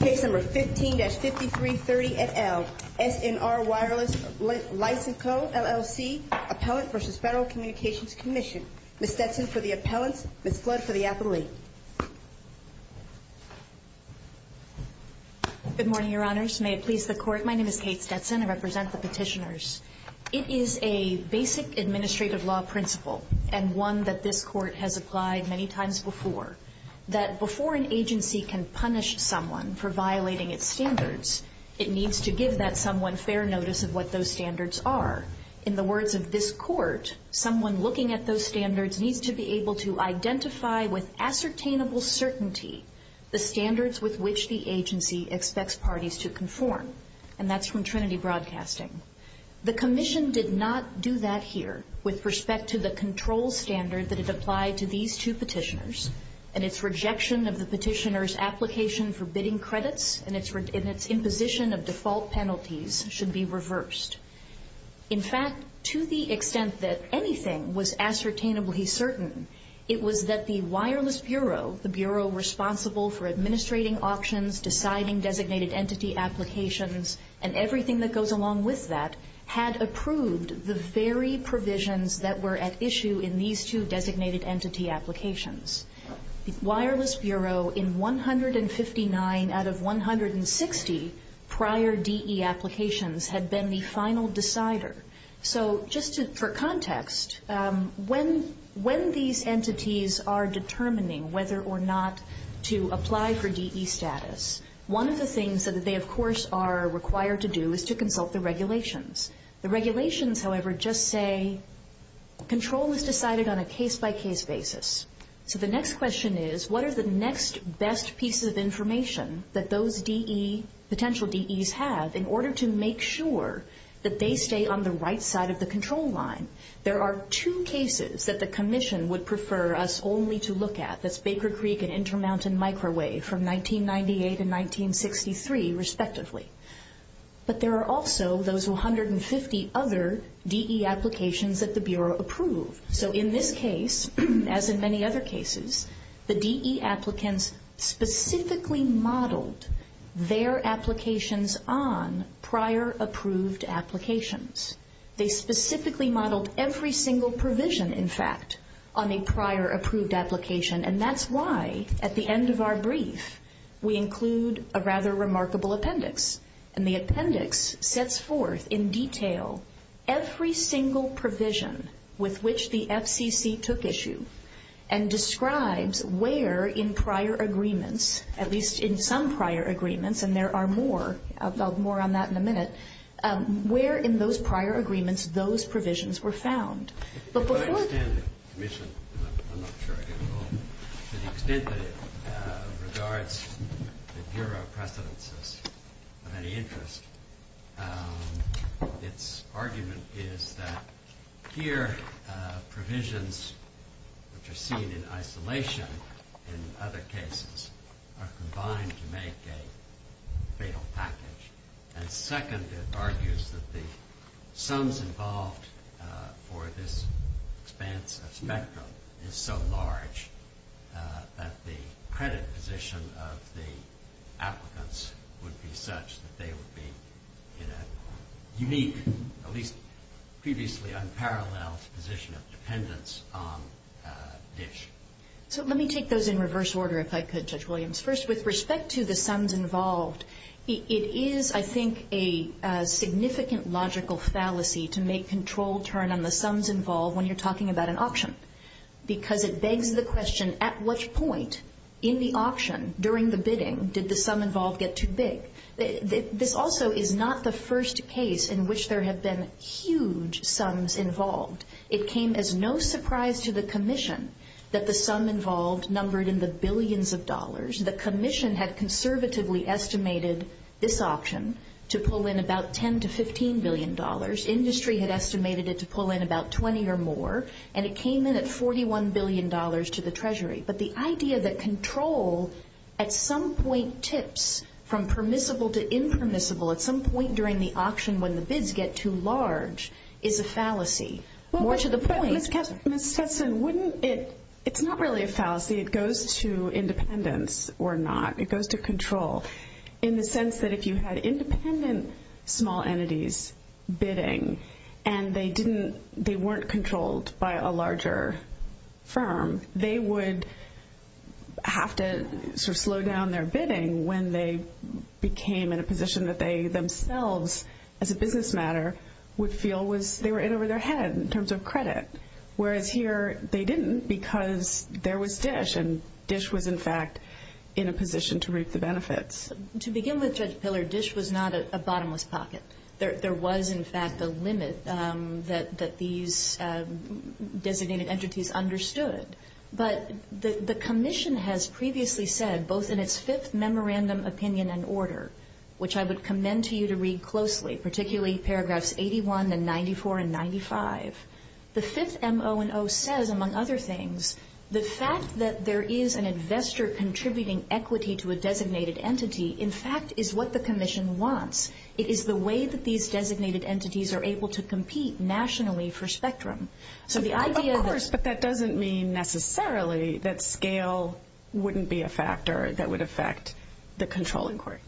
Case number 15-5330 et al. SNR Wireless Licenseco, LLC, Appellant v. Federal Communications Commission. Ms. Stetson for the appellants. Ms. Flood for the appellate. Good morning, Your Honors. May it please the Court. My name is Kate Stetson. I represent the petitioners. It is a basic administrative law principle and one that this Court has applied many times before. That before an agency can punish someone for violating its standards, it needs to give that someone fair notice of what those standards are. In the words of this Court, someone looking at those standards needs to be able to identify with ascertainable certainty the standards with which the agency expects parties to conform. And that's from Trinity Broadcasting. The Commission did not do that here with respect to the control standard that it applied to these two petitioners, and its rejection of the petitioner's application for bidding credits and its imposition of default penalties should be reversed. In fact, to the extent that anything was ascertainably certain, it was that the Wireless Bureau, the Bureau responsible for administrating auctions, deciding designated entity applications, and everything that goes along with that, had approved the very provisions that were at issue in these two designated entity applications. The Wireless Bureau, in 159 out of 160 prior DE applications, had been the final decider. So just for context, when these entities are determining whether or not to apply for DE status, one of the things that they, of course, are required to do is to consult the regulations. The regulations, however, just say control is decided on a case-by-case basis. So the next question is, what are the next best pieces of information that those DE, potential DEs have, in order to make sure that they stay on the right side of the control line? There are two cases that the Commission would prefer us only to look at. That's Baker Creek and Intermountain Microwave from 1998 and 1963, respectively. But there are also those 150 other DE applications that the Bureau approved. So in this case, as in many other cases, the DE applicants specifically modeled their applications on prior approved applications. They specifically modeled every single provision, in fact, on a prior approved application. And that's why, at the end of our brief, we include a rather remarkable appendix. And the appendix sets forth in detail every single provision with which the FCC took issue and describes where in prior agreements, at least in some prior agreements, and there are more on that in a minute, where in those prior agreements those provisions were found. If I understand the Commission, and I'm not sure I do at all, to the extent that it regards the Bureau precedences of any interest, its argument is that here provisions which are seen in isolation in other cases are combined to make a fatal package. And second, it argues that the sums involved for this expanse of spectrum is so large that the credit position of the applicants would be such that they would be in a unique, at least previously unparalleled, position of dependence on DISH. So let me take those in reverse order, if I could, Judge Williams. First, with respect to the sums involved, it is, I think, a significant logical fallacy to make control turn on the sums involved when you're talking about an auction because it begs the question, at which point in the auction during the bidding did the sum involved get too big? This also is not the first case in which there have been huge sums involved. It came as no surprise to the Commission that the sum involved numbered in the billions of dollars. The Commission had conservatively estimated this auction to pull in about $10 billion to $15 billion. Industry had estimated it to pull in about $20 billion or more, and it came in at $41 billion to the Treasury. But the idea that control at some point tips from permissible to impermissible at some point during the auction when the bids get too large is a fallacy. More to the point, Ms. Kessler. Ms. Kessler, it's not really a fallacy. It goes to independence or not. It goes to control in the sense that if you had independent small entities bidding and they weren't controlled by a larger firm, they would have to slow down their bidding when they became in a position that they themselves, as a business matter, would feel they were in over their head in terms of credit. Whereas here they didn't because there was DISH, and DISH was, in fact, in a position to reap the benefits. To begin with, Judge Pillard, DISH was not a bottomless pocket. There was, in fact, a limit that these designated entities understood. But the Commission has previously said, both in its fifth Memorandum, Opinion, and Order, which I would commend to you to read closely, particularly paragraphs 81 and 94 and 95, the fifth M.O. and O. says, among other things, the fact that there is an investor contributing equity to a designated entity, in fact, is what the Commission wants. It is the way that these designated entities are able to compete nationally for Spectrum. Of course, but that doesn't mean necessarily that scale wouldn't be a factor that would affect the control inquiry.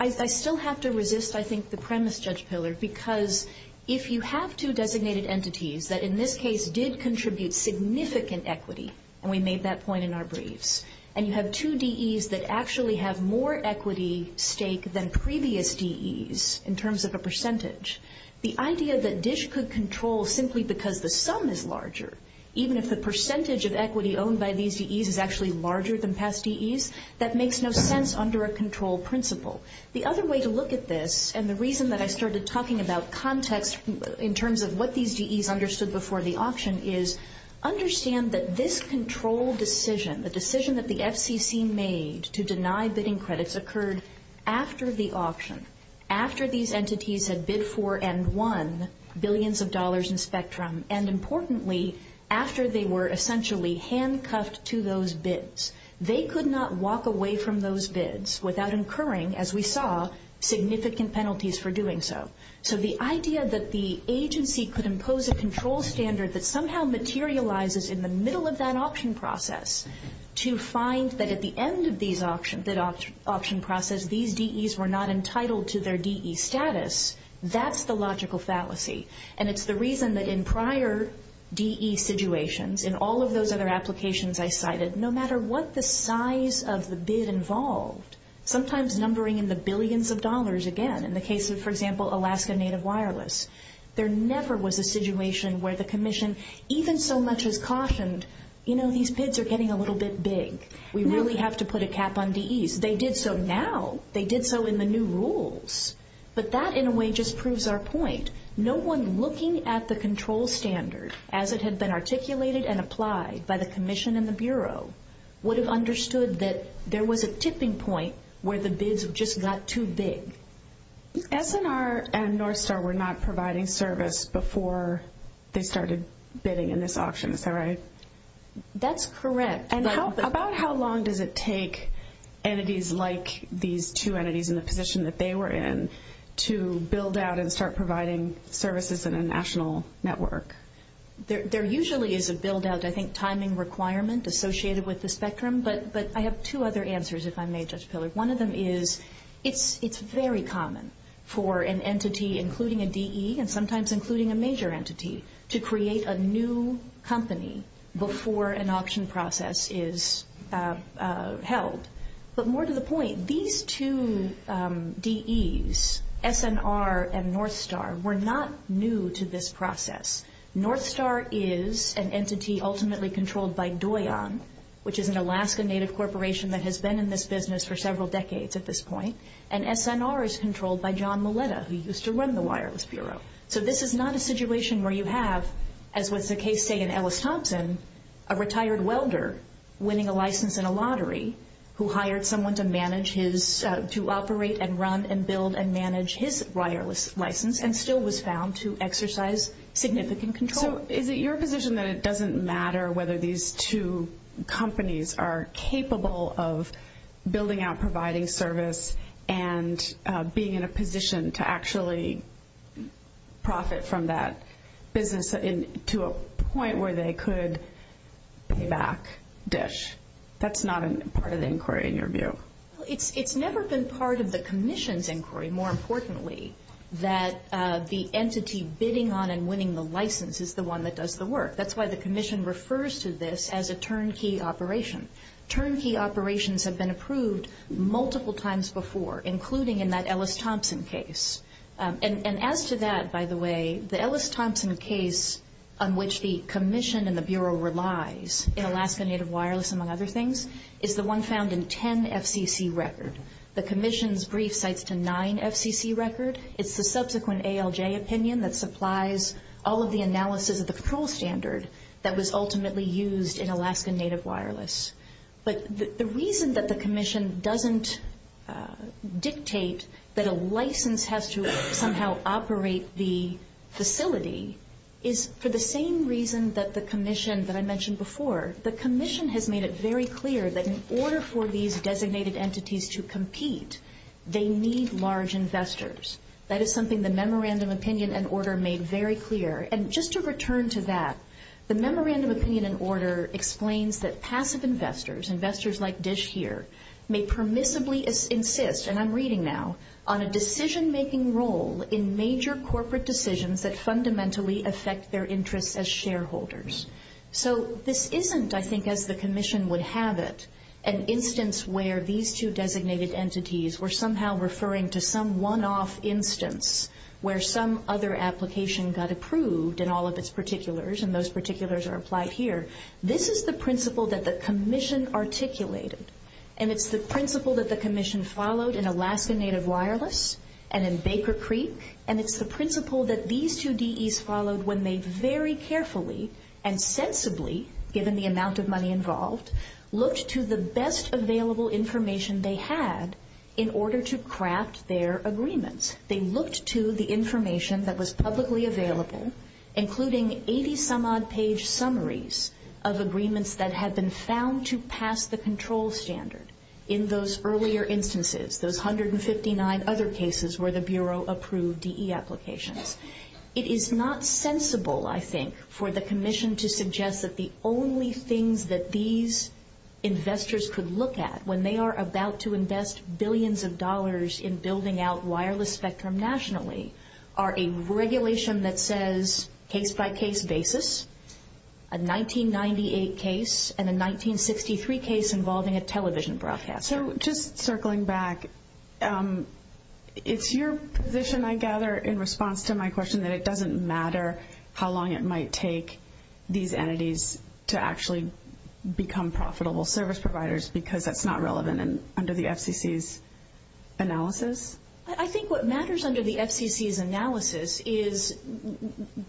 I still have to resist, I think, the premise, Judge Pillard, because if you have two designated entities that, in this case, did contribute significant equity, and we made that point in our briefs, and you have two DEs that actually have more equity stake than previous DEs in terms of a percentage, the idea that DISH could control simply because the sum is larger, even if the percentage of equity owned by these DEs is actually larger than past DEs, that makes no sense under a control principle. The other way to look at this, and the reason that I started talking about context in terms of what these DEs understood before the auction, is understand that this control decision, the decision that the FCC made to deny bidding credits occurred after the auction, after these entities had bid for and won billions of dollars in Spectrum, and importantly, after they were essentially handcuffed to those bids. They could not walk away from those bids without incurring, as we saw, significant penalties for doing so. So the idea that the agency could impose a control standard that somehow materializes in the middle of that auction process to find that at the end of that auction process, these DEs were not entitled to their DE status, that's the logical fallacy. And it's the reason that in prior DE situations, in all of those other applications I cited, no matter what the size of the bid involved, sometimes numbering in the billions of dollars again, in the case of, for example, Alaska Native Wireless, there never was a situation where the commission, even so much as cautioned, you know, these bids are getting a little bit big. We really have to put a cap on DEs. They did so now. They did so in the new rules. But that, in a way, just proves our point. No one looking at the control standard as it had been articulated and applied by the commission and the Bureau would have understood that there was a tipping point where the bids just got too big. SNR and North Star were not providing service before they started bidding in this auction. Is that right? That's correct. And about how long does it take entities like these two entities in the position that they were in to build out and start providing services in a national network? There usually is a build-out, I think, timing requirement associated with the spectrum, but I have two other answers, if I may, Judge Pillard. One of them is it's very common for an entity, including a DE and sometimes including a major entity, to create a new company before an auction process is held. But more to the point, these two DEs, SNR and North Star, were not new to this process. North Star is an entity ultimately controlled by Doyon, which is an Alaska-native corporation that has been in this business for several decades at this point. And SNR is controlled by John Maleta, who used to run the Wireless Bureau. So this is not a situation where you have, as was the case, say, in Ellis Thompson, a retired welder winning a license in a lottery who hired someone to manage his, to operate and run and build and manage his wireless license and still was found to exercise significant control. So is it your position that it doesn't matter whether these two companies are capable of building out, providing service, and being in a position to actually profit from that business to a point where they could pay back DISH? That's not part of the inquiry in your view. Well, it's never been part of the commission's inquiry, more importantly, that the entity bidding on and winning the license is the one that does the work. That's why the commission refers to this as a turnkey operation. Turnkey operations have been approved multiple times before, including in that Ellis Thompson case. And as to that, by the way, the Ellis Thompson case on which the commission and the Bureau relies in Alaska Native Wireless, among other things, is the one found in 10 FCC record. The commission's brief cites to 9 FCC record. It's the subsequent ALJ opinion that supplies all of the analysis of the patrol standard that was ultimately used in Alaska Native Wireless. But the reason that the commission doesn't dictate that a license has to somehow operate the facility is for the same reason that the commission that I mentioned before, the commission has made it very clear that in order for these designated entities to compete, they need large investors. That is something the memorandum opinion and order made very clear. And just to return to that, the memorandum opinion and order explains that passive investors, investors like Dish here, may permissibly insist, and I'm reading now, on a decision-making role in major corporate decisions that fundamentally affect their interests as shareholders. So this isn't, I think as the commission would have it, an instance where these two designated entities were somehow referring to some one-off instance where some other application got approved in all of its particulars, and those particulars are applied here. This is the principle that the commission articulated, and it's the principle that the commission followed in Alaska Native Wireless and in Baker Creek, and it's the principle that these two DEs followed when they very carefully and sensibly, given the amount of money involved, looked to the best available information they had in order to craft their agreements. They looked to the information that was publicly available, including 80-some-odd page summaries of agreements that had been found to pass the control standard. In those earlier instances, those 159 other cases where the Bureau approved DE applications. It is not sensible, I think, for the commission to suggest that the only things that these investors could look at when they are about to invest billions of dollars in building out wireless spectrum nationally are a regulation that says case-by-case basis, a 1998 case, and a 1963 case involving a television broadcaster. So just circling back, it's your position, I gather, in response to my question, that it doesn't matter how long it might take these entities to actually become profitable service providers because that's not relevant under the FCC's analysis? I think what matters under the FCC's analysis is,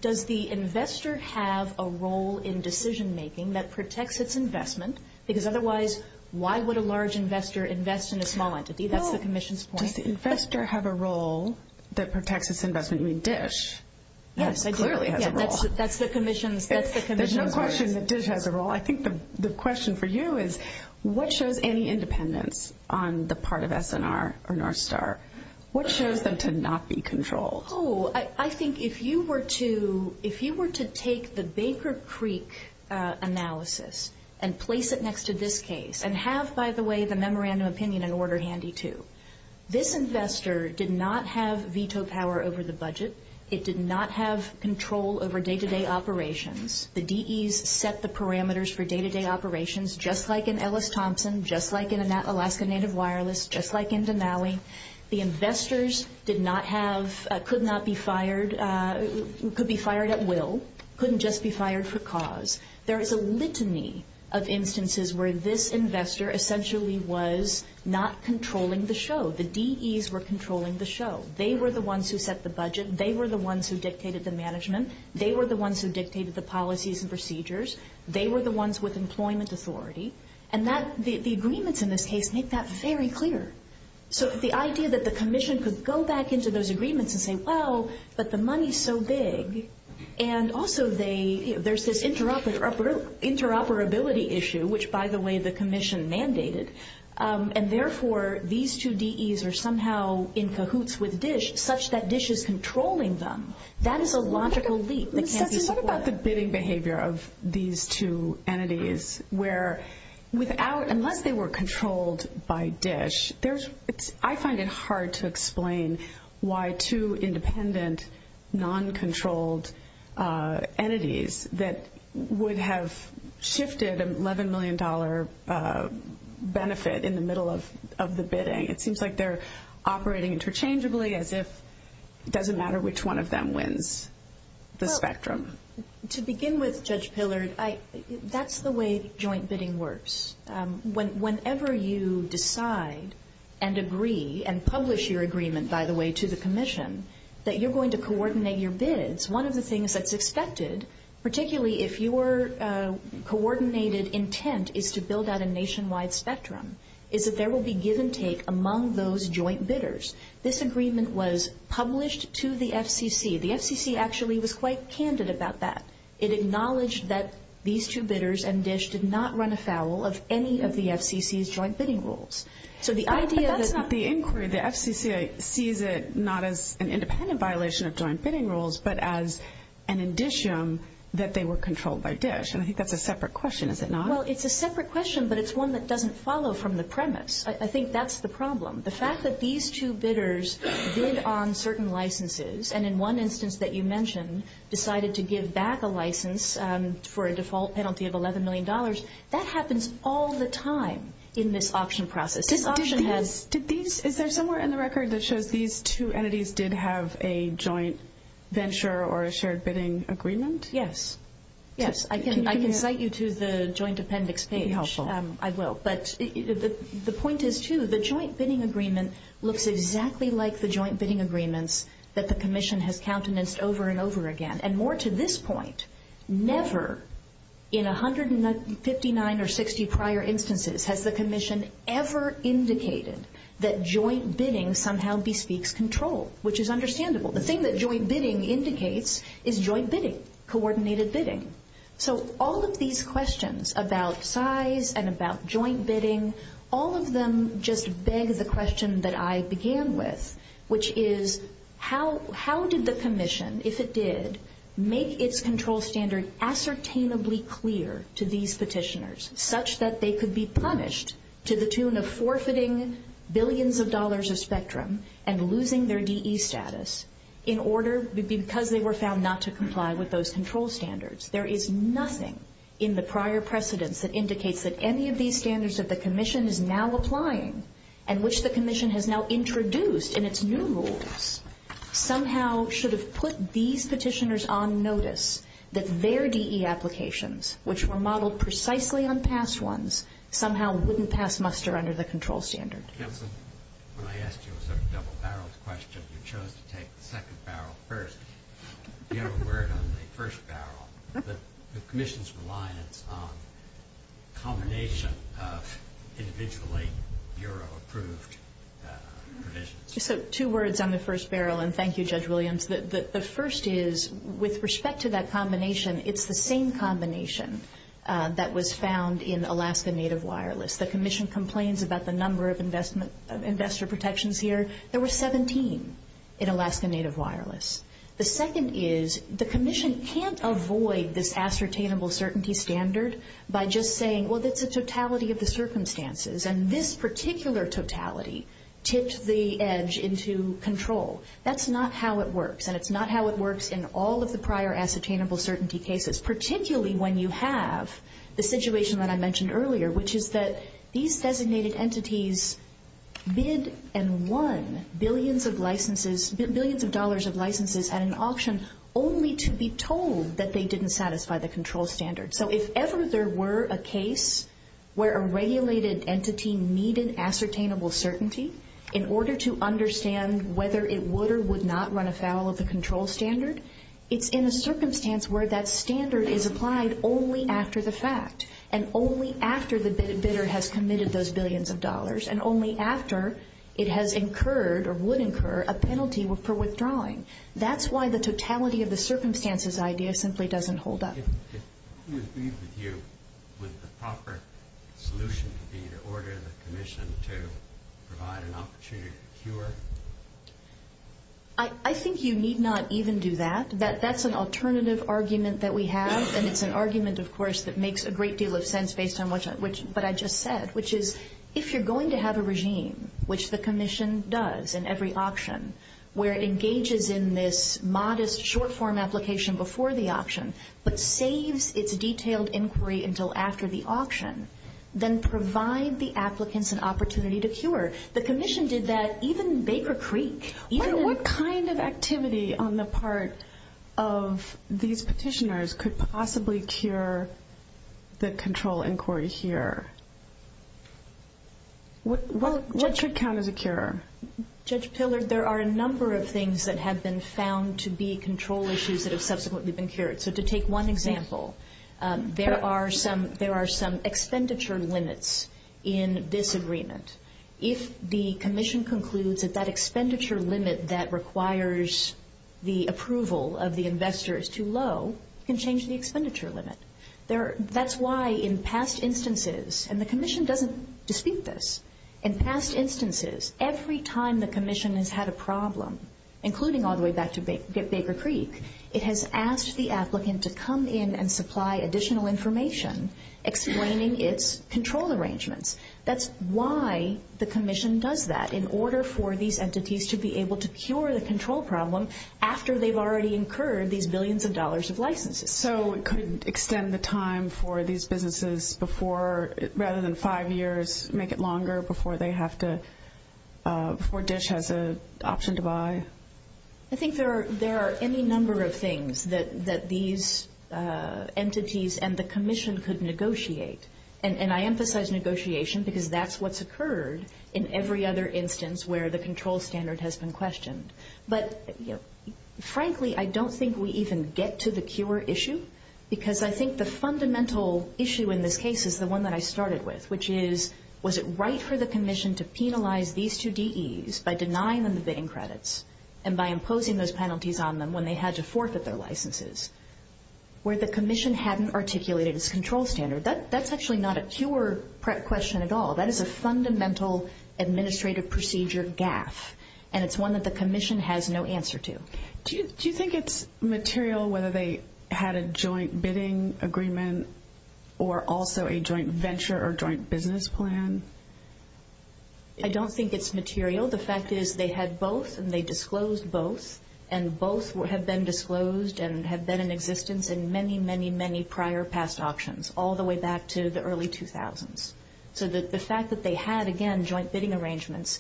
does the investor have a role in decision-making that protects its investment? Because otherwise, why would a large investor invest in a small entity? That's the commission's point. Does the investor have a role that protects its investment? You mean DISH clearly has a role. Yes, that's the commission's point. There's no question that DISH has a role. I think the question for you is, what shows any independence on the part of S&R or Northstar? What shows them to not be controlled? Oh, I think if you were to take the Baker Creek analysis and place it next to this case and have, by the way, the memorandum of opinion and order handy too, this investor did not have veto power over the budget. It did not have control over day-to-day operations. The DEs set the parameters for day-to-day operations just like in Ellis Thompson, just like in Alaska Native Wireless, just like in Denali. The investors could not be fired, could be fired at will, couldn't just be fired for cause. There is a litany of instances where this investor essentially was not controlling the show. The DEs were controlling the show. They were the ones who set the budget. They were the ones who dictated the management. They were the ones who dictated the policies and procedures. They were the ones with employment authority. And the agreements in this case make that very clear. So the idea that the commission could go back into those agreements and say, well, but the money is so big, and also there's this interoperability issue, which, by the way, the commission mandated, and therefore these two DEs are somehow in cahoots with DISH such that DISH is controlling them. That is a logical leap that can't be supported. What about the bidding behavior of these two entities where, unless they were controlled by DISH, I find it hard to explain why two independent, non-controlled entities that would have shifted an $11 million benefit in the middle of the bidding, it seems like they're operating interchangeably as if it doesn't matter which one of them wins the spectrum. To begin with, Judge Pillard, that's the way joint bidding works. Whenever you decide and agree and publish your agreement, by the way, to the commission, that you're going to coordinate your bids, one of the things that's expected, particularly if your coordinated intent is to build out a nationwide spectrum, is that there will be give and take among those joint bidders. This agreement was published to the FCC. The FCC actually was quite candid about that. It acknowledged that these two bidders and DISH did not run afoul of any of the FCC's joint bidding rules. So the idea that the inquiry, the FCC sees it not as an independent violation of joint bidding rules, but as an indicium that they were controlled by DISH, and I think that's a separate question, is it not? Well, it's a separate question, but it's one that doesn't follow from the premise. I think that's the problem. The fact that these two bidders bid on certain licenses, and in one instance that you mentioned decided to give back a license for a default penalty of $11 million, that happens all the time in this auction process. This auction has – Is there somewhere in the record that shows these two entities did have a joint venture or a shared bidding agreement? Yes. Yes, I can cite you to the joint appendix page. It would be helpful. I will, but the point is, too, the joint bidding agreement looks exactly like the joint bidding agreements that the Commission has countenanced over and over again. And more to this point, never in 159 or 60 prior instances has the Commission ever indicated that joint bidding somehow bespeaks control, which is understandable. The thing that joint bidding indicates is joint bidding, coordinated bidding. So all of these questions about size and about joint bidding, all of them just beg the question that I began with, which is how did the Commission, if it did, make its control standard ascertainably clear to these petitioners, such that they could be punished to the tune of forfeiting billions of dollars of spectrum and losing their DE status in order – because they were found not to comply with those control standards? There is nothing in the prior precedents that indicates that any of these standards that the Commission is now applying and which the Commission has now introduced in its new rules somehow should have put these petitioners on notice that their DE applications, which were modeled precisely on past ones, somehow wouldn't pass muster under the control standard. Counsel, when I asked you a sort of double-barreled question, you chose to take the second barrel first. Do you have a word on the first barrel, the Commission's reliance on combination of individually bureau-approved provisions? So two words on the first barrel, and thank you, Judge Williams. The first is, with respect to that combination, it's the same combination that was found in Alaska Native Wireless. The Commission complains about the number of investor protections here. There were 17 in Alaska Native Wireless. The second is, the Commission can't avoid this ascertainable certainty standard by just saying, well, that's a totality of the circumstances, and this particular totality tipped the edge into control. That's not how it works, and it's not how it works in all of the prior ascertainable certainty cases, particularly when you have the situation that I mentioned earlier, which is that these designated entities bid and won billions of licenses, billions of dollars of licenses at an auction only to be told that they didn't satisfy the control standard. So if ever there were a case where a regulated entity needed ascertainable certainty in order to understand whether it would or would not run afoul of the control standard, it's in a circumstance where that standard is applied only after the fact and only after the bidder has committed those billions of dollars and only after it has incurred or would incur a penalty for withdrawing. That's why the totality of the circumstances idea simply doesn't hold up. If we agreed with you, would the proper solution be to order the Commission to provide an opportunity to cure? I think you need not even do that. That's an alternative argument that we have, and it's an argument, of course, that makes a great deal of sense based on what I just said, which is if you're going to have a regime, which the Commission does in every auction, where it engages in this modest short-form application before the auction but saves its detailed inquiry until after the auction, then provide the applicants an opportunity to cure. The Commission did that even in Baker Creek. What kind of activity on the part of these petitioners could possibly cure the control inquiry here? What could count as a cure? Judge Pillard, there are a number of things that have been found to be control issues that have subsequently been cured. So to take one example, there are some expenditure limits in this agreement. If the Commission concludes that that expenditure limit that requires the approval of the investor is too low, it can change the expenditure limit. That's why in past instances, and the Commission doesn't dispute this, in past instances, every time the Commission has had a problem, including all the way back to Baker Creek, it has asked the applicant to come in and supply additional information explaining its control arrangements. That's why the Commission does that, in order for these entities to be able to cure the control problem after they've already incurred these billions of dollars of licenses. So it could extend the time for these businesses before, rather than five years, make it longer before they have to, before DISH has an option to buy? I think there are any number of things that these entities and the Commission could negotiate. And I emphasize negotiation because that's what's occurred in every other instance where the control standard has been questioned. But, frankly, I don't think we even get to the cure issue, because I think the fundamental issue in this case is the one that I started with, which is was it right for the Commission to penalize these two DEs by denying them the bidding credits and by imposing those penalties on them when they had to forfeit their licenses, where the Commission hadn't articulated its control standard? That's actually not a cure question at all. That is a fundamental administrative procedure gaffe. And it's one that the Commission has no answer to. Do you think it's material whether they had a joint bidding agreement or also a joint venture or joint business plan? I don't think it's material. The fact is they had both and they disclosed both, and both have been disclosed and have been in existence in many, many, many prior past auctions, all the way back to the early 2000s. So the fact that they had, again, joint bidding arrangements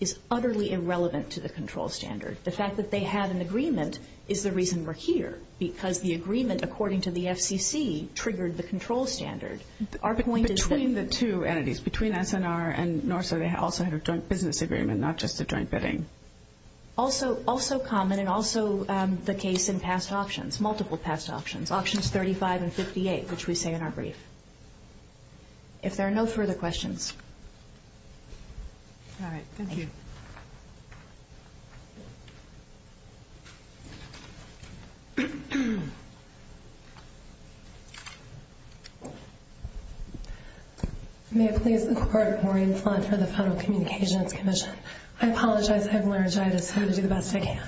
is utterly irrelevant to the control standard. The fact that they had an agreement is the reason we're here, because the agreement, according to the FCC, triggered the control standard. Between the two entities, between SNR and NORSA, they also had a joint business agreement, not just a joint bidding. Also common and also the case in past auctions, multiple past auctions, auctions 35 and 58, which we say in our brief. If there are no further questions. All right. Thank you. May it please the Court, Maureen Fletcher of the Federal Communications Commission. I apologize. I have laryngitis. I'm going to do the best I can.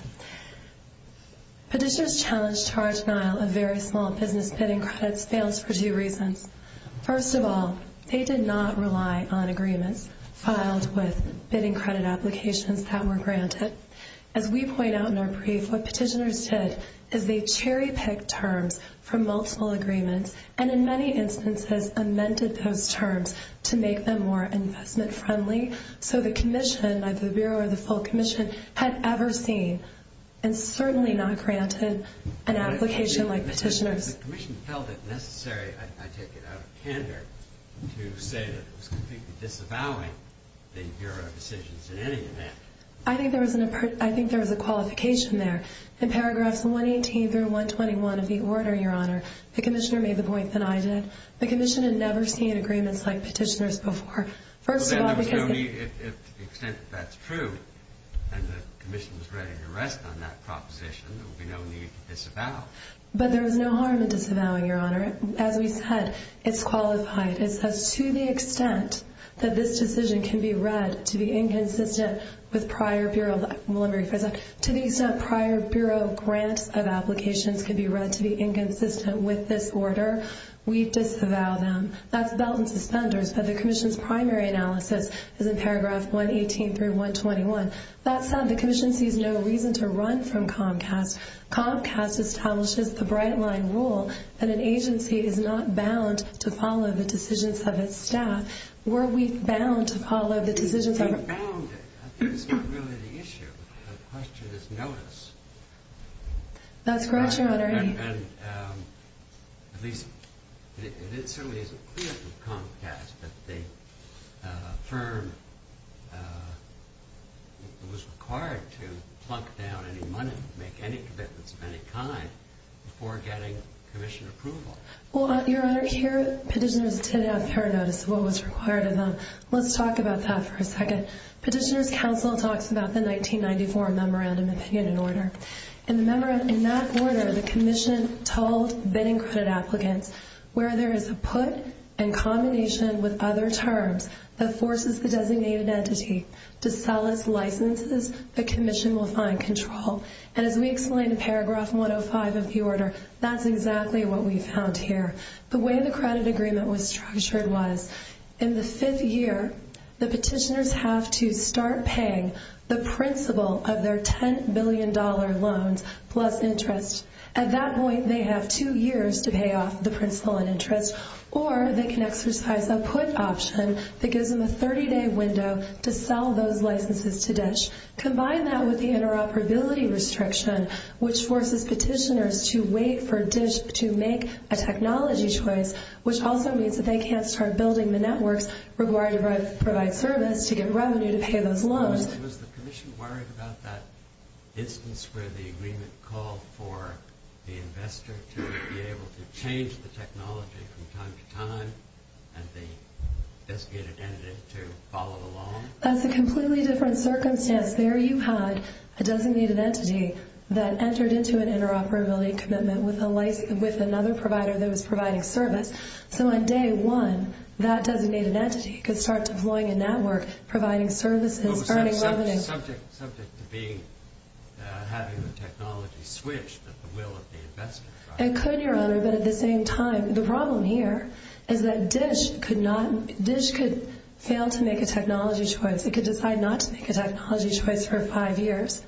Petitioners challenged charge denial of very small business bidding credits fails for two reasons. First of all, they did not rely on agreements filed with bidding credit applications that were granted. As we point out in our brief, what petitioners did is they cherry-picked terms from multiple agreements and in many instances amended those terms to make them more investment-friendly, so the Commission, either the Bureau or the full Commission, had ever seen and certainly not granted an application like petitioners. The Commission held it necessary, I take it out of candor, to say that it was completely disavowing the Bureau of Decisions in any event. I think there was a qualification there. In paragraphs 118 through 121 of the order, Your Honor, the Commissioner made the point that I did. The Commission had never seen agreements like petitioners before. Well, then there was no need, to the extent that that's true, and the Commission was ready to rest on that proposition, there would be no need to disavow. But there was no harm in disavowing, Your Honor. As we said, it's qualified. It says to the extent that this decision can be read to be inconsistent with prior Bureau, let me rephrase that, to the extent prior Bureau grants of applications can be read to be inconsistent with this order, we disavow them. That's belt and suspenders. But the Commission's primary analysis is in paragraph 118 through 121. That said, the Commission sees no reason to run from Comcast. Comcast establishes the bright-line rule that an agency is not bound to follow the decisions of its staff. Were we bound to follow the decisions of our staff? We weren't bound. I think it's not really the issue. The question is notice. That's correct, Your Honor. At least it certainly isn't clear from Comcast that the firm was required to plunk down any money, make any commitments of any kind, before getting Commission approval. Well, Your Honor, here petitioners did have prior notice of what was required of them. Let's talk about that for a second. Petitioners' counsel talks about the 1994 Memorandum of Opinion and Order. In that order, the Commission told bidding credit applicants, where there is a put in combination with other terms that forces the designated entity to sell its licenses, the Commission will find control. And as we explained in paragraph 105 of the order, that's exactly what we found here. The way the credit agreement was structured was in the fifth year, the petitioners have to start paying the principal of their $10 billion loans plus interest. At that point, they have two years to pay off the principal and interest, or they can exercise a put option that gives them a 30-day window to sell those licenses to DISH. Combine that with the interoperability restriction, which forces petitioners to wait for DISH to make a technology choice, which also means that they can't start building the networks required to provide service to get revenue to pay those loans. Was the Commission worried about that instance where the agreement called for the investor to be able to change the technology from time to time and the designated entity to follow along? That's a completely different circumstance. There you had a designated entity that entered into an interoperability commitment with another provider that was providing service. So on day one, that designated entity could start deploying a network, providing services, earning revenue. Subject to having the technology switched at the will of the investor. It could, Your Honor, but at the same time, the problem here is that DISH could fail to make a technology choice. It could decide not to make a technology choice for five years.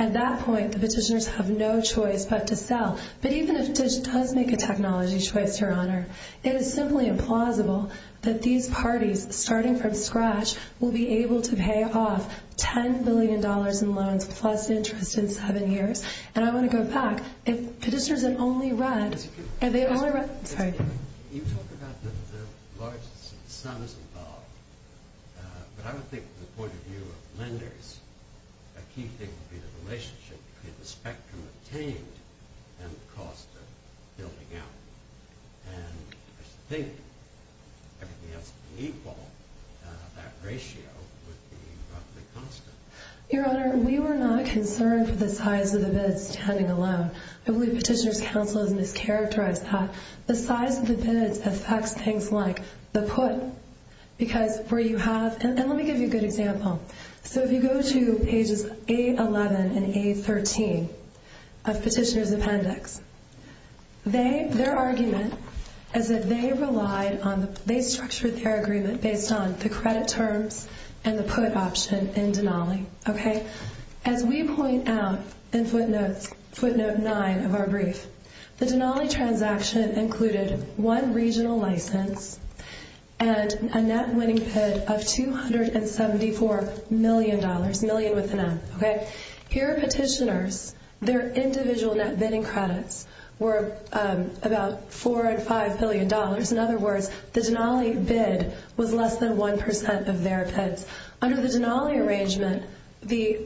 At that point, the petitioners have no choice but to sell. But even if DISH does make a technology choice, Your Honor, it is simply implausible that these parties, starting from scratch, will be able to pay off $10 billion in loans plus interest in seven years. And I want to go back. If petitioners had only read – You talk about the largest sums involved, but I would think from the point of view of lenders, a key thing would be the relationship between the spectrum obtained and the cost of building out. And I think everything else being equal, that ratio would be roughly constant. Your Honor, we were not concerned for the size of the bid standing alone. I believe Petitioner's Counsel has mischaracterized that. The size of the bids affects things like the put, because where you have – And let me give you a good example. So if you go to pages 811 and 813 of Petitioner's Appendix, their argument is that they relied on – they structured their agreement based on the credit terms and the put option in Denali. As we point out in footnote 9 of our brief, the Denali transaction included one regional license and a net winning bid of $274 million, million with an M. Here, petitioners, their individual net bidding credits were about $4 and $5 billion. In other words, the Denali bid was less than 1% of their bids. Under the Denali arrangement, the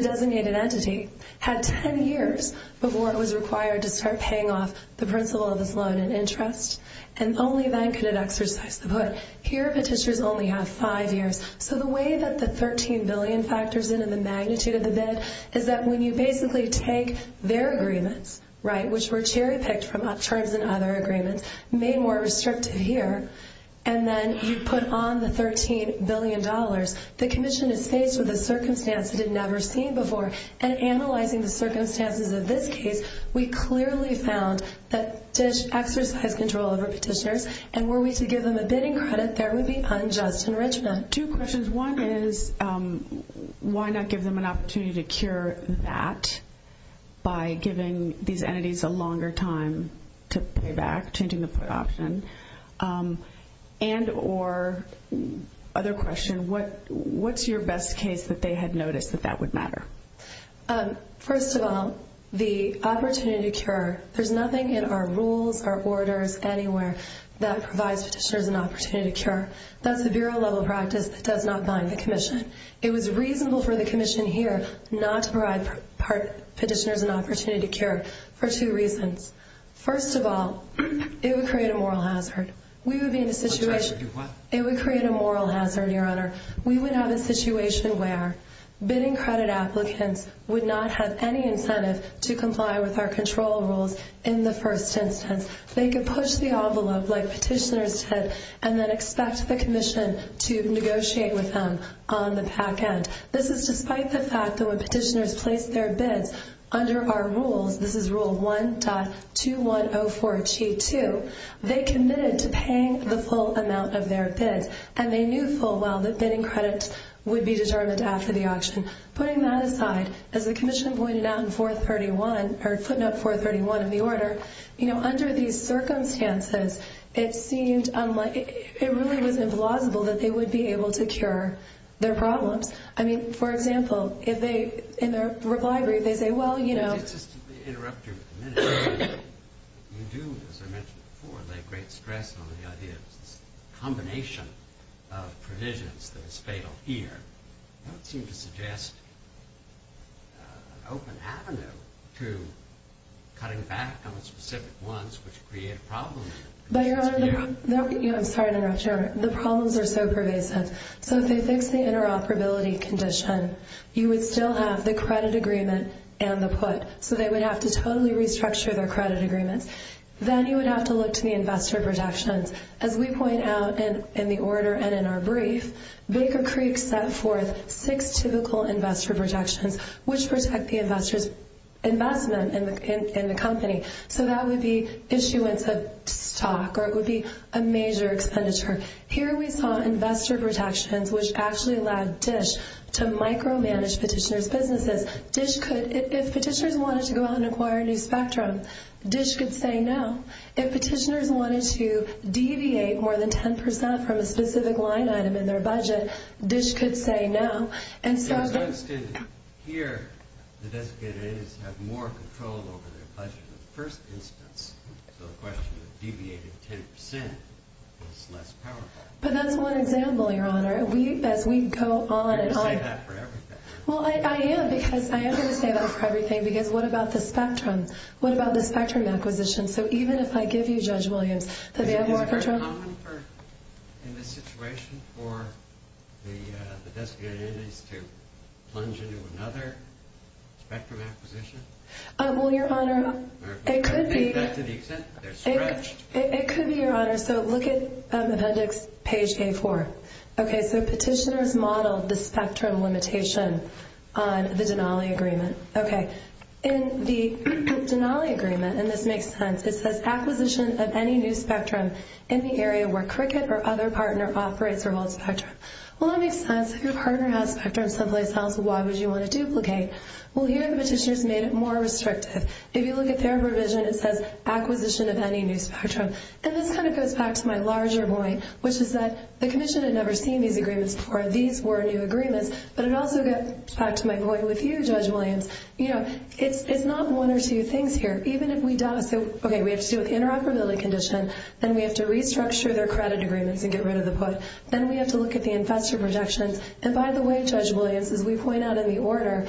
designated entity had 10 years before it was required to start paying off the principal of this loan in interest, and only then could it exercise the put. Here, petitioners only have five years. So the way that the $13 billion factors in and the magnitude of the bid is that when you basically take their agreements, right, which were cherry-picked from terms in other agreements, made more restrictive here, and then you put on the $13 billion, the commission is faced with a circumstance it had never seen before. And analyzing the circumstances of this case, we clearly found that to exercise control over petitioners, and were we to give them a bidding credit, there would be unjust enrichment. Two questions. One is why not give them an opportunity to cure that by giving these entities a longer time to pay back, changing the put option? And or, other question, what's your best case that they had noticed that that would matter? First of all, the opportunity to cure. There's nothing in our rules, our orders, anywhere that provides petitioners an opportunity to cure. That's a bureau-level practice that does not bind the commission. It was reasonable for the commission here not to provide petitioners an opportunity to cure for two reasons. First of all, it would create a moral hazard. It would create a moral hazard, Your Honor. We would have a situation where bidding credit applicants would not have any incentive to comply with our control rules in the first instance. They could push the envelope, like petitioners did, and then expect the commission to negotiate with them on the back end. This is despite the fact that when petitioners placed their bids under our rules, this is rule 1.2104G2, they committed to paying the full amount of their bids, and they knew full well that bidding credit would be determined after the auction. Putting that aside, as the commission pointed out in 431, or footnote 431 of the order, under these circumstances, it really was implausible that they would be able to cure their problems. I mean, for example, in their reply brief, they say, well, you know. Just to interrupt you for a minute, you do, as I mentioned before, lay great stress on the idea of this combination of provisions that is fatal here. I don't seem to suggest an open avenue to cutting back on specific ones which create problems. But, Your Honor, I'm sorry to interrupt you, Your Honor. The problems are so pervasive. So if they fix the interoperability condition, you would still have the credit agreement and the put. So they would have to totally restructure their credit agreements. Then you would have to look to the investor protections. As we point out in the order and in our brief, Baker Creek set forth six typical investor protections which protect the investor's investment in the company. So that would be issuance of stock, or it would be a major expenditure. Here we saw investor protections which actually allowed DISH to micromanage petitioner's businesses. If petitioners wanted to go out and acquire a new spectrum, DISH could say no. If petitioners wanted to deviate more than 10% from a specific line item in their budget, DISH could say no. So it's understood here the designated entities have more control over their budget in the first instance. So the question of deviating 10% is less powerful. But that's one example, Your Honor. As we go on and on. You're going to say that for everything. Well, I am, because I am going to say that for everything. Because what about the spectrum? What about the spectrum acquisition? So even if I give you, Judge Williams, that they have more control? Is it very common in this situation for the designated entities to plunge into another spectrum acquisition? Well, Your Honor, it could be. To the extent that they're stretched. It could be, Your Honor. So look at Appendix Page K-4. Okay, so petitioners modeled the spectrum limitation on the Denali Agreement. Okay. In the Denali Agreement, and this makes sense, it says acquisition of any new spectrum in the area where Cricket or other partner operates or holds spectrum. Well, that makes sense. If your partner has spectrum someplace else, why would you want to duplicate? Well, here the petitioners made it more restrictive. If you look at their provision, it says acquisition of any new spectrum. And this kind of goes back to my larger point, which is that the commission had never seen these agreements before. These were new agreements. But it also gets back to my point with you, Judge Williams. You know, it's not one or two things here. Even if we don't. So, okay, we have to deal with the interoperability condition. Then we have to restructure their credit agreements and get rid of the put. Then we have to look at the investor protections. And by the way, Judge Williams, as we point out in the order,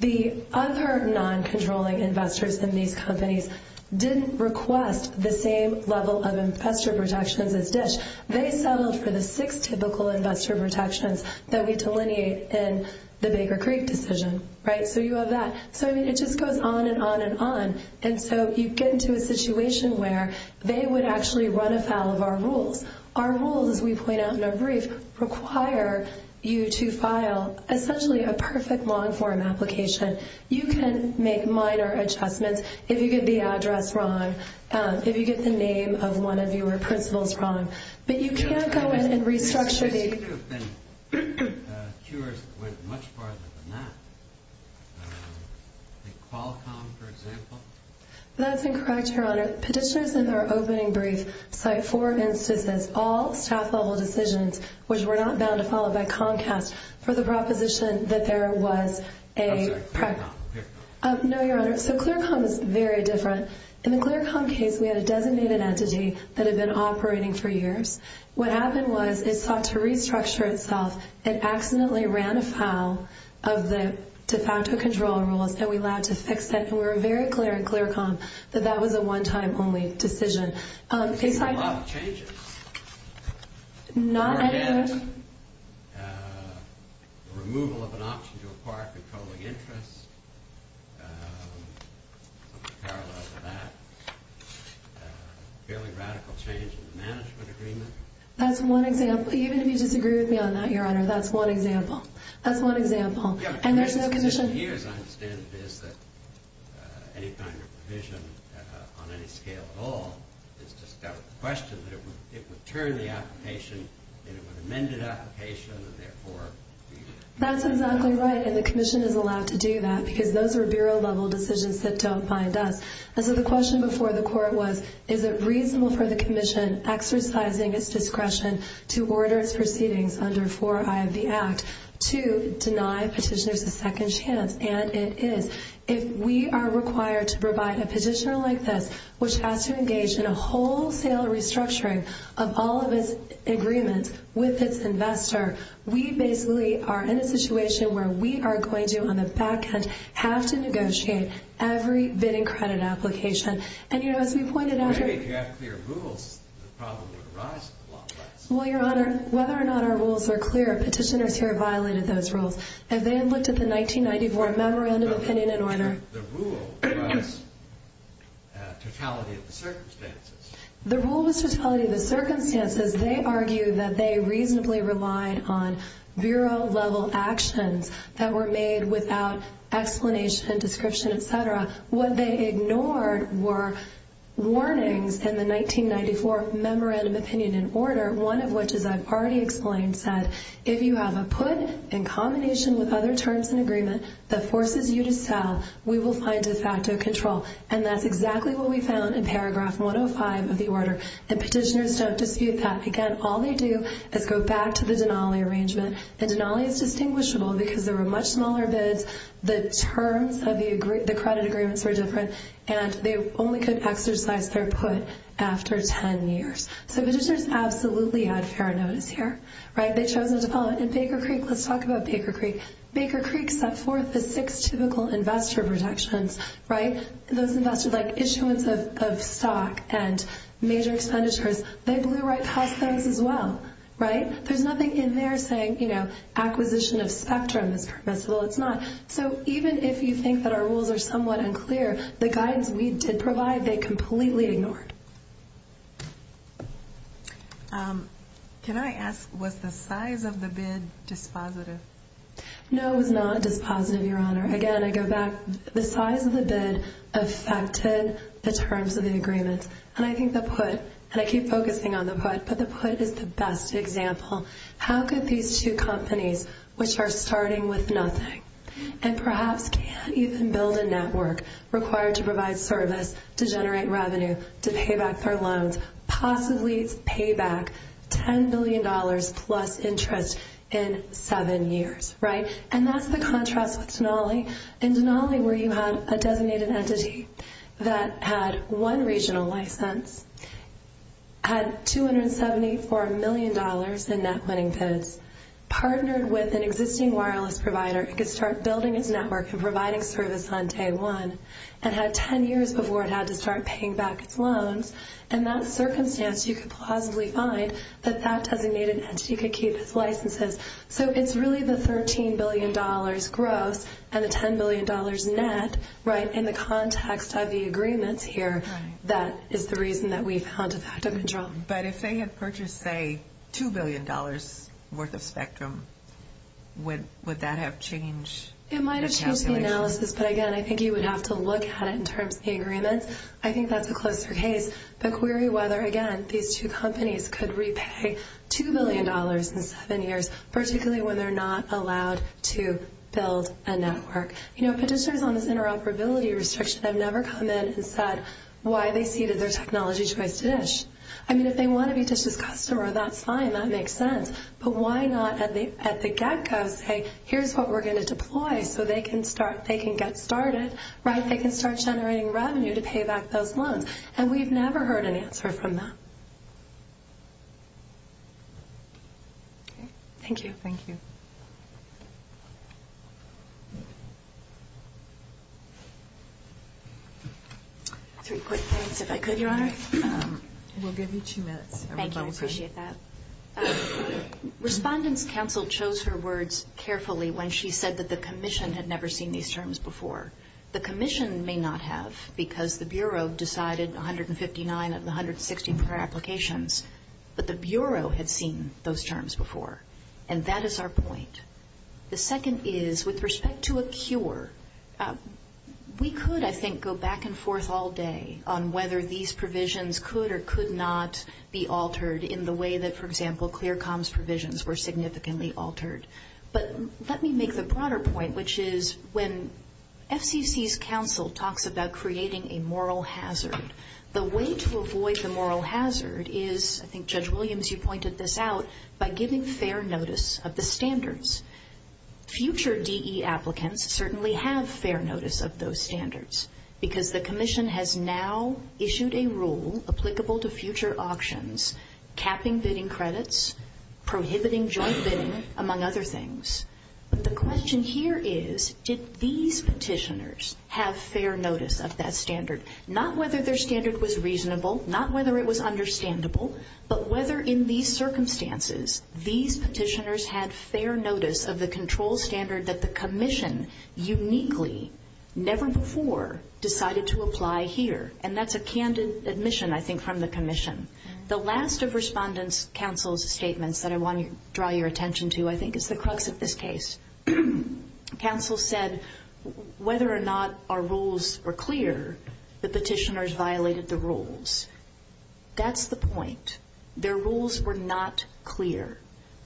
the other non-controlling investors in these companies didn't request the same level of investor protections as DISH. They settled for the six typical investor protections that we delineate in the Baker Creek decision, right? So you have that. So, I mean, it just goes on and on and on. And so you get into a situation where they would actually run afoul of our rules. Our rules, as we point out in our brief, require you to file essentially a perfect long-form application. You can make minor adjustments. If you get the address wrong, if you get the name of one of your principals wrong. But you can't go in and restructure the- This issue has been cured with much farther than that. Qualcomm, for example. That's incorrect, Your Honor. Petitioners in their opening brief cite four instances, all staff-level decisions, which were not bound to follow by Comcast for the proposition that there was a- I'm sorry. Clearcom. Clearcom. No, Your Honor. So Clearcom is very different. In the Clearcom case, we had a designated entity that had been operating for years. What happened was it sought to restructure itself. It accidentally ran afoul of the de facto control rules, and we allowed to fix that. And we were very clear in Clearcom that that was a one-time only decision. It's a lot of changes. Not any of those. Removal of an option to acquire controlling interests. Something parallel to that. Fairly radical change in the management agreement. That's one example. Even if you disagree with me on that, Your Honor, that's one example. That's one example. And there's no condition- Any kind of provision on any scale at all is just a question. It would turn the application into an amended application, and therefore- That's exactly right, and the Commission is allowed to do that because those are Bureau-level decisions that don't bind us. And so the question before the Court was, is it reasonable for the Commission, exercising its discretion to order its proceedings under 4I of the Act, to deny petitioners a second chance? And it is. If we are required to provide a petitioner like this, which has to engage in a wholesale restructuring of all of its agreements with its investor, we basically are in a situation where we are going to, on the back end, have to negotiate every bidding credit application. And, you know, as we pointed out- Well, maybe if you had clear rules, the problem would arise in the long run. Well, Your Honor, whether or not our rules are clear, petitioners here violated those rules. If they had looked at the 1994 Memorandum of Opinion and Order- But the rule was totality of the circumstances. The rule was totality of the circumstances. They argued that they reasonably relied on Bureau-level actions that were made without explanation, description, et cetera. What they ignored were warnings in the 1994 Memorandum of Opinion and Order, one of which, as I've already explained, said, if you have a put in combination with other terms in agreement that forces you to sell, we will find de facto control. And that's exactly what we found in paragraph 105 of the order. And petitioners don't dispute that. Again, all they do is go back to the Denali arrangement. And Denali is distinguishable because there were much smaller bids. The terms of the credit agreements were different. And they only could exercise their put after 10 years. So petitioners absolutely had fair notice here. Right? They chose not to follow it. And Baker Creek- let's talk about Baker Creek. Baker Creek set forth the six typical investor protections, right? Those investors like issuance of stock and major expenditures. They blew right past those as well. Right? There's nothing in there saying, you know, acquisition of spectrum is permissible. It's not. So even if you think that our rules are somewhat unclear, the guidance we did provide, they completely ignored. Can I ask, was the size of the bid dispositive? No, it was not dispositive, Your Honor. Again, I go back. The size of the bid affected the terms of the agreement. And I think the put, and I keep focusing on the put, but the put is the best example. How could these two companies, which are starting with nothing, and perhaps can't even build a network, required to provide service, to generate revenue, to pay back their loans, possibly pay back $10 billion plus interest in seven years. And that's the contrast with Denali. In Denali, where you had a designated entity that had one regional license, had $274 million in net winning bids, partnered with an existing wireless provider, it could start building its network and providing service on day one, and had 10 years before it had to start paying back its loans. In that circumstance, you could plausibly find that that designated entity could keep its licenses. So it's really the $13 billion gross and the $10 billion net, right, in the context of the agreements here, that is the reason that we found a fact of control. But if they had purchased, say, $2 billion worth of Spectrum, would that have changed the calculation? It might have changed the analysis, but again, I think you would have to look at it in terms of the agreements. I think that's a closer case. But query whether, again, these two companies could repay $2 billion in seven years, particularly when they're not allowed to build a network. You know, petitioners on this interoperability restriction have never come in and said why they ceded their technology choice to DISH. I mean, if they want to be DISH's customer, that's fine, that makes sense. But why not at the get-go say, here's what we're going to deploy so they can get started, right, they can start generating revenue to pay back those loans. And we've never heard an answer from them. Thank you. Thank you. Three quick points, if I could, Your Honor. We'll give you two minutes. Thank you, I appreciate that. Respondent's counsel chose her words carefully when she said that the commission had never seen these terms before. The commission may not have because the Bureau decided 159 of the 164 applications, but the Bureau had seen those terms before. And that is our point. The second is, with respect to a cure, we could, I think, go back and forth all day on whether these provisions could or could not be altered in the way that, for example, ClearComm's provisions were significantly altered. But let me make the broader point, which is when FCC's counsel talks about creating a moral hazard, the way to avoid the moral hazard is, I think Judge Williams, you pointed this out, by giving fair notice of the standards. Future DE applicants certainly have fair notice of those standards because the commission has now issued a rule applicable to future auctions capping bidding credits, prohibiting joint bidding, among other things. But the question here is, did these petitioners have fair notice of that standard? Not whether their standard was reasonable, not whether it was understandable, but whether in these circumstances these petitioners had fair notice of the control standard that the commission uniquely, never before, decided to apply here. And that's a candid admission, I think, from the commission. The last of Respondent's counsel's statements that I want to draw your attention to, I think, is the crux of this case. Counsel said whether or not our rules were clear, the petitioners violated the rules. That's the point. Their rules were not clear.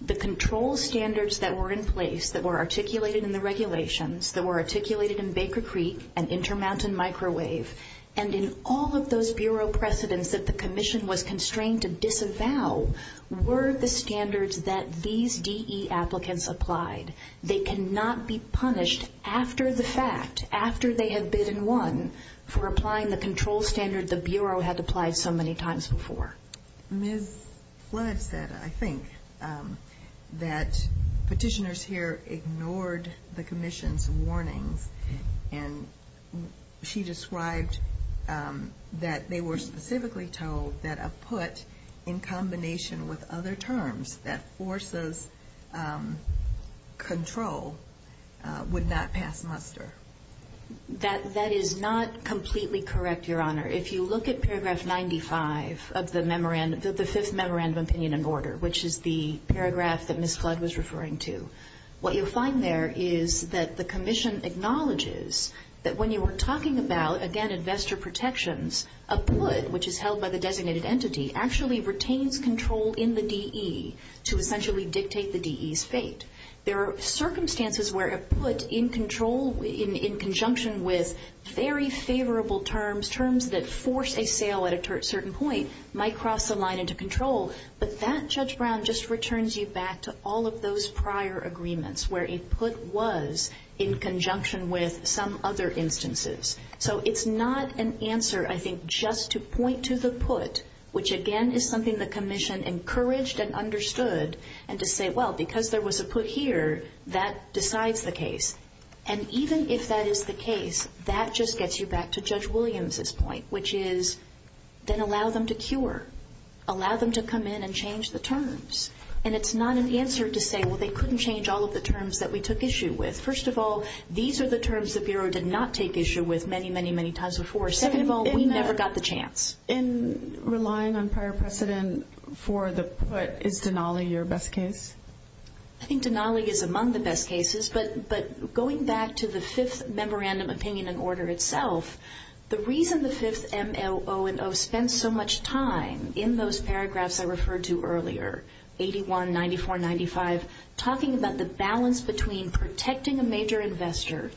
The control standards that were in place, that were articulated in the regulations, that were articulated in Baker Creek and Intermountain Microwave, and in all of those bureau precedents that the commission was constrained to disavow, were the standards that these DE applicants applied. They cannot be punished after the fact, after they have bid and won, for applying the control standard the bureau had applied so many times before. Ms. Flood said, I think, that petitioners here ignored the commission's warnings, and she described that they were specifically told that a put, in combination with other terms, that forces control would not pass muster. That is not completely correct, Your Honor. If you look at paragraph 95 of the Fifth Memorandum of Opinion and Order, which is the paragraph that Ms. Flood was referring to, what you'll find there is that the commission acknowledges that when you were talking about, again, investor protections, a put, which is held by the designated entity, actually retains control in the DE to essentially dictate the DE's fate. There are circumstances where a put in conjunction with very favorable terms, terms that force a sale at a certain point, might cross the line into control, but that, Judge Brown, just returns you back to all of those prior agreements, where a put was in conjunction with some other instances. So it's not an answer, I think, just to point to the put, which, again, is something the commission encouraged and understood, and to say, well, because there was a put here, that decides the case. And even if that is the case, that just gets you back to Judge Williams' point, which is then allow them to cure, allow them to come in and change the terms. And it's not an answer to say, well, they couldn't change all of the terms that we took issue with. First of all, these are the terms the Bureau did not take issue with many, many, many times before. Second of all, we never got the chance. In relying on prior precedent for the put, is Denali your best case? I think Denali is among the best cases, but going back to the Fifth Memorandum Opinion and Order itself, the reason the Fifth M.L.O. and O. spent so much time in those paragraphs I referred to earlier, 81, 94, 95, talking about the balance between protecting a major investor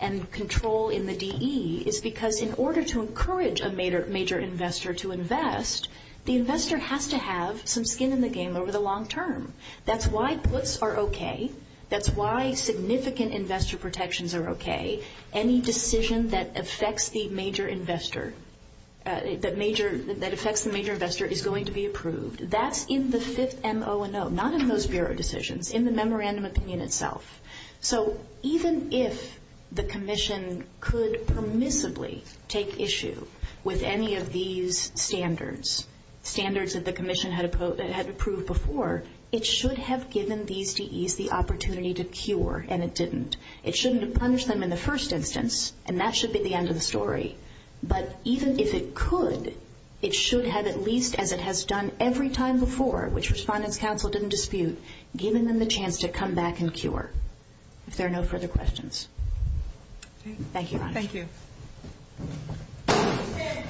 and control in the DE, is because in order to encourage a major investor to invest, the investor has to have some skin in the game over the long term. That's why puts are okay. That's why significant investor protections are okay. Any decision that affects the major investor is going to be approved. That's in the Fifth M.L.O. and O., not in those Bureau decisions, in the Memorandum Opinion itself. So even if the Commission could permissibly take issue with any of these standards, standards that the Commission had approved before, it should have given these DEs the opportunity to cure, and it didn't. It shouldn't have punished them in the first instance, and that should be the end of the story. But even if it could, it should have at least, as it has done every time before, which Respondents' Council didn't dispute, given them the chance to come back and cure, if there are no further questions. Thank you, Ron. Thank you.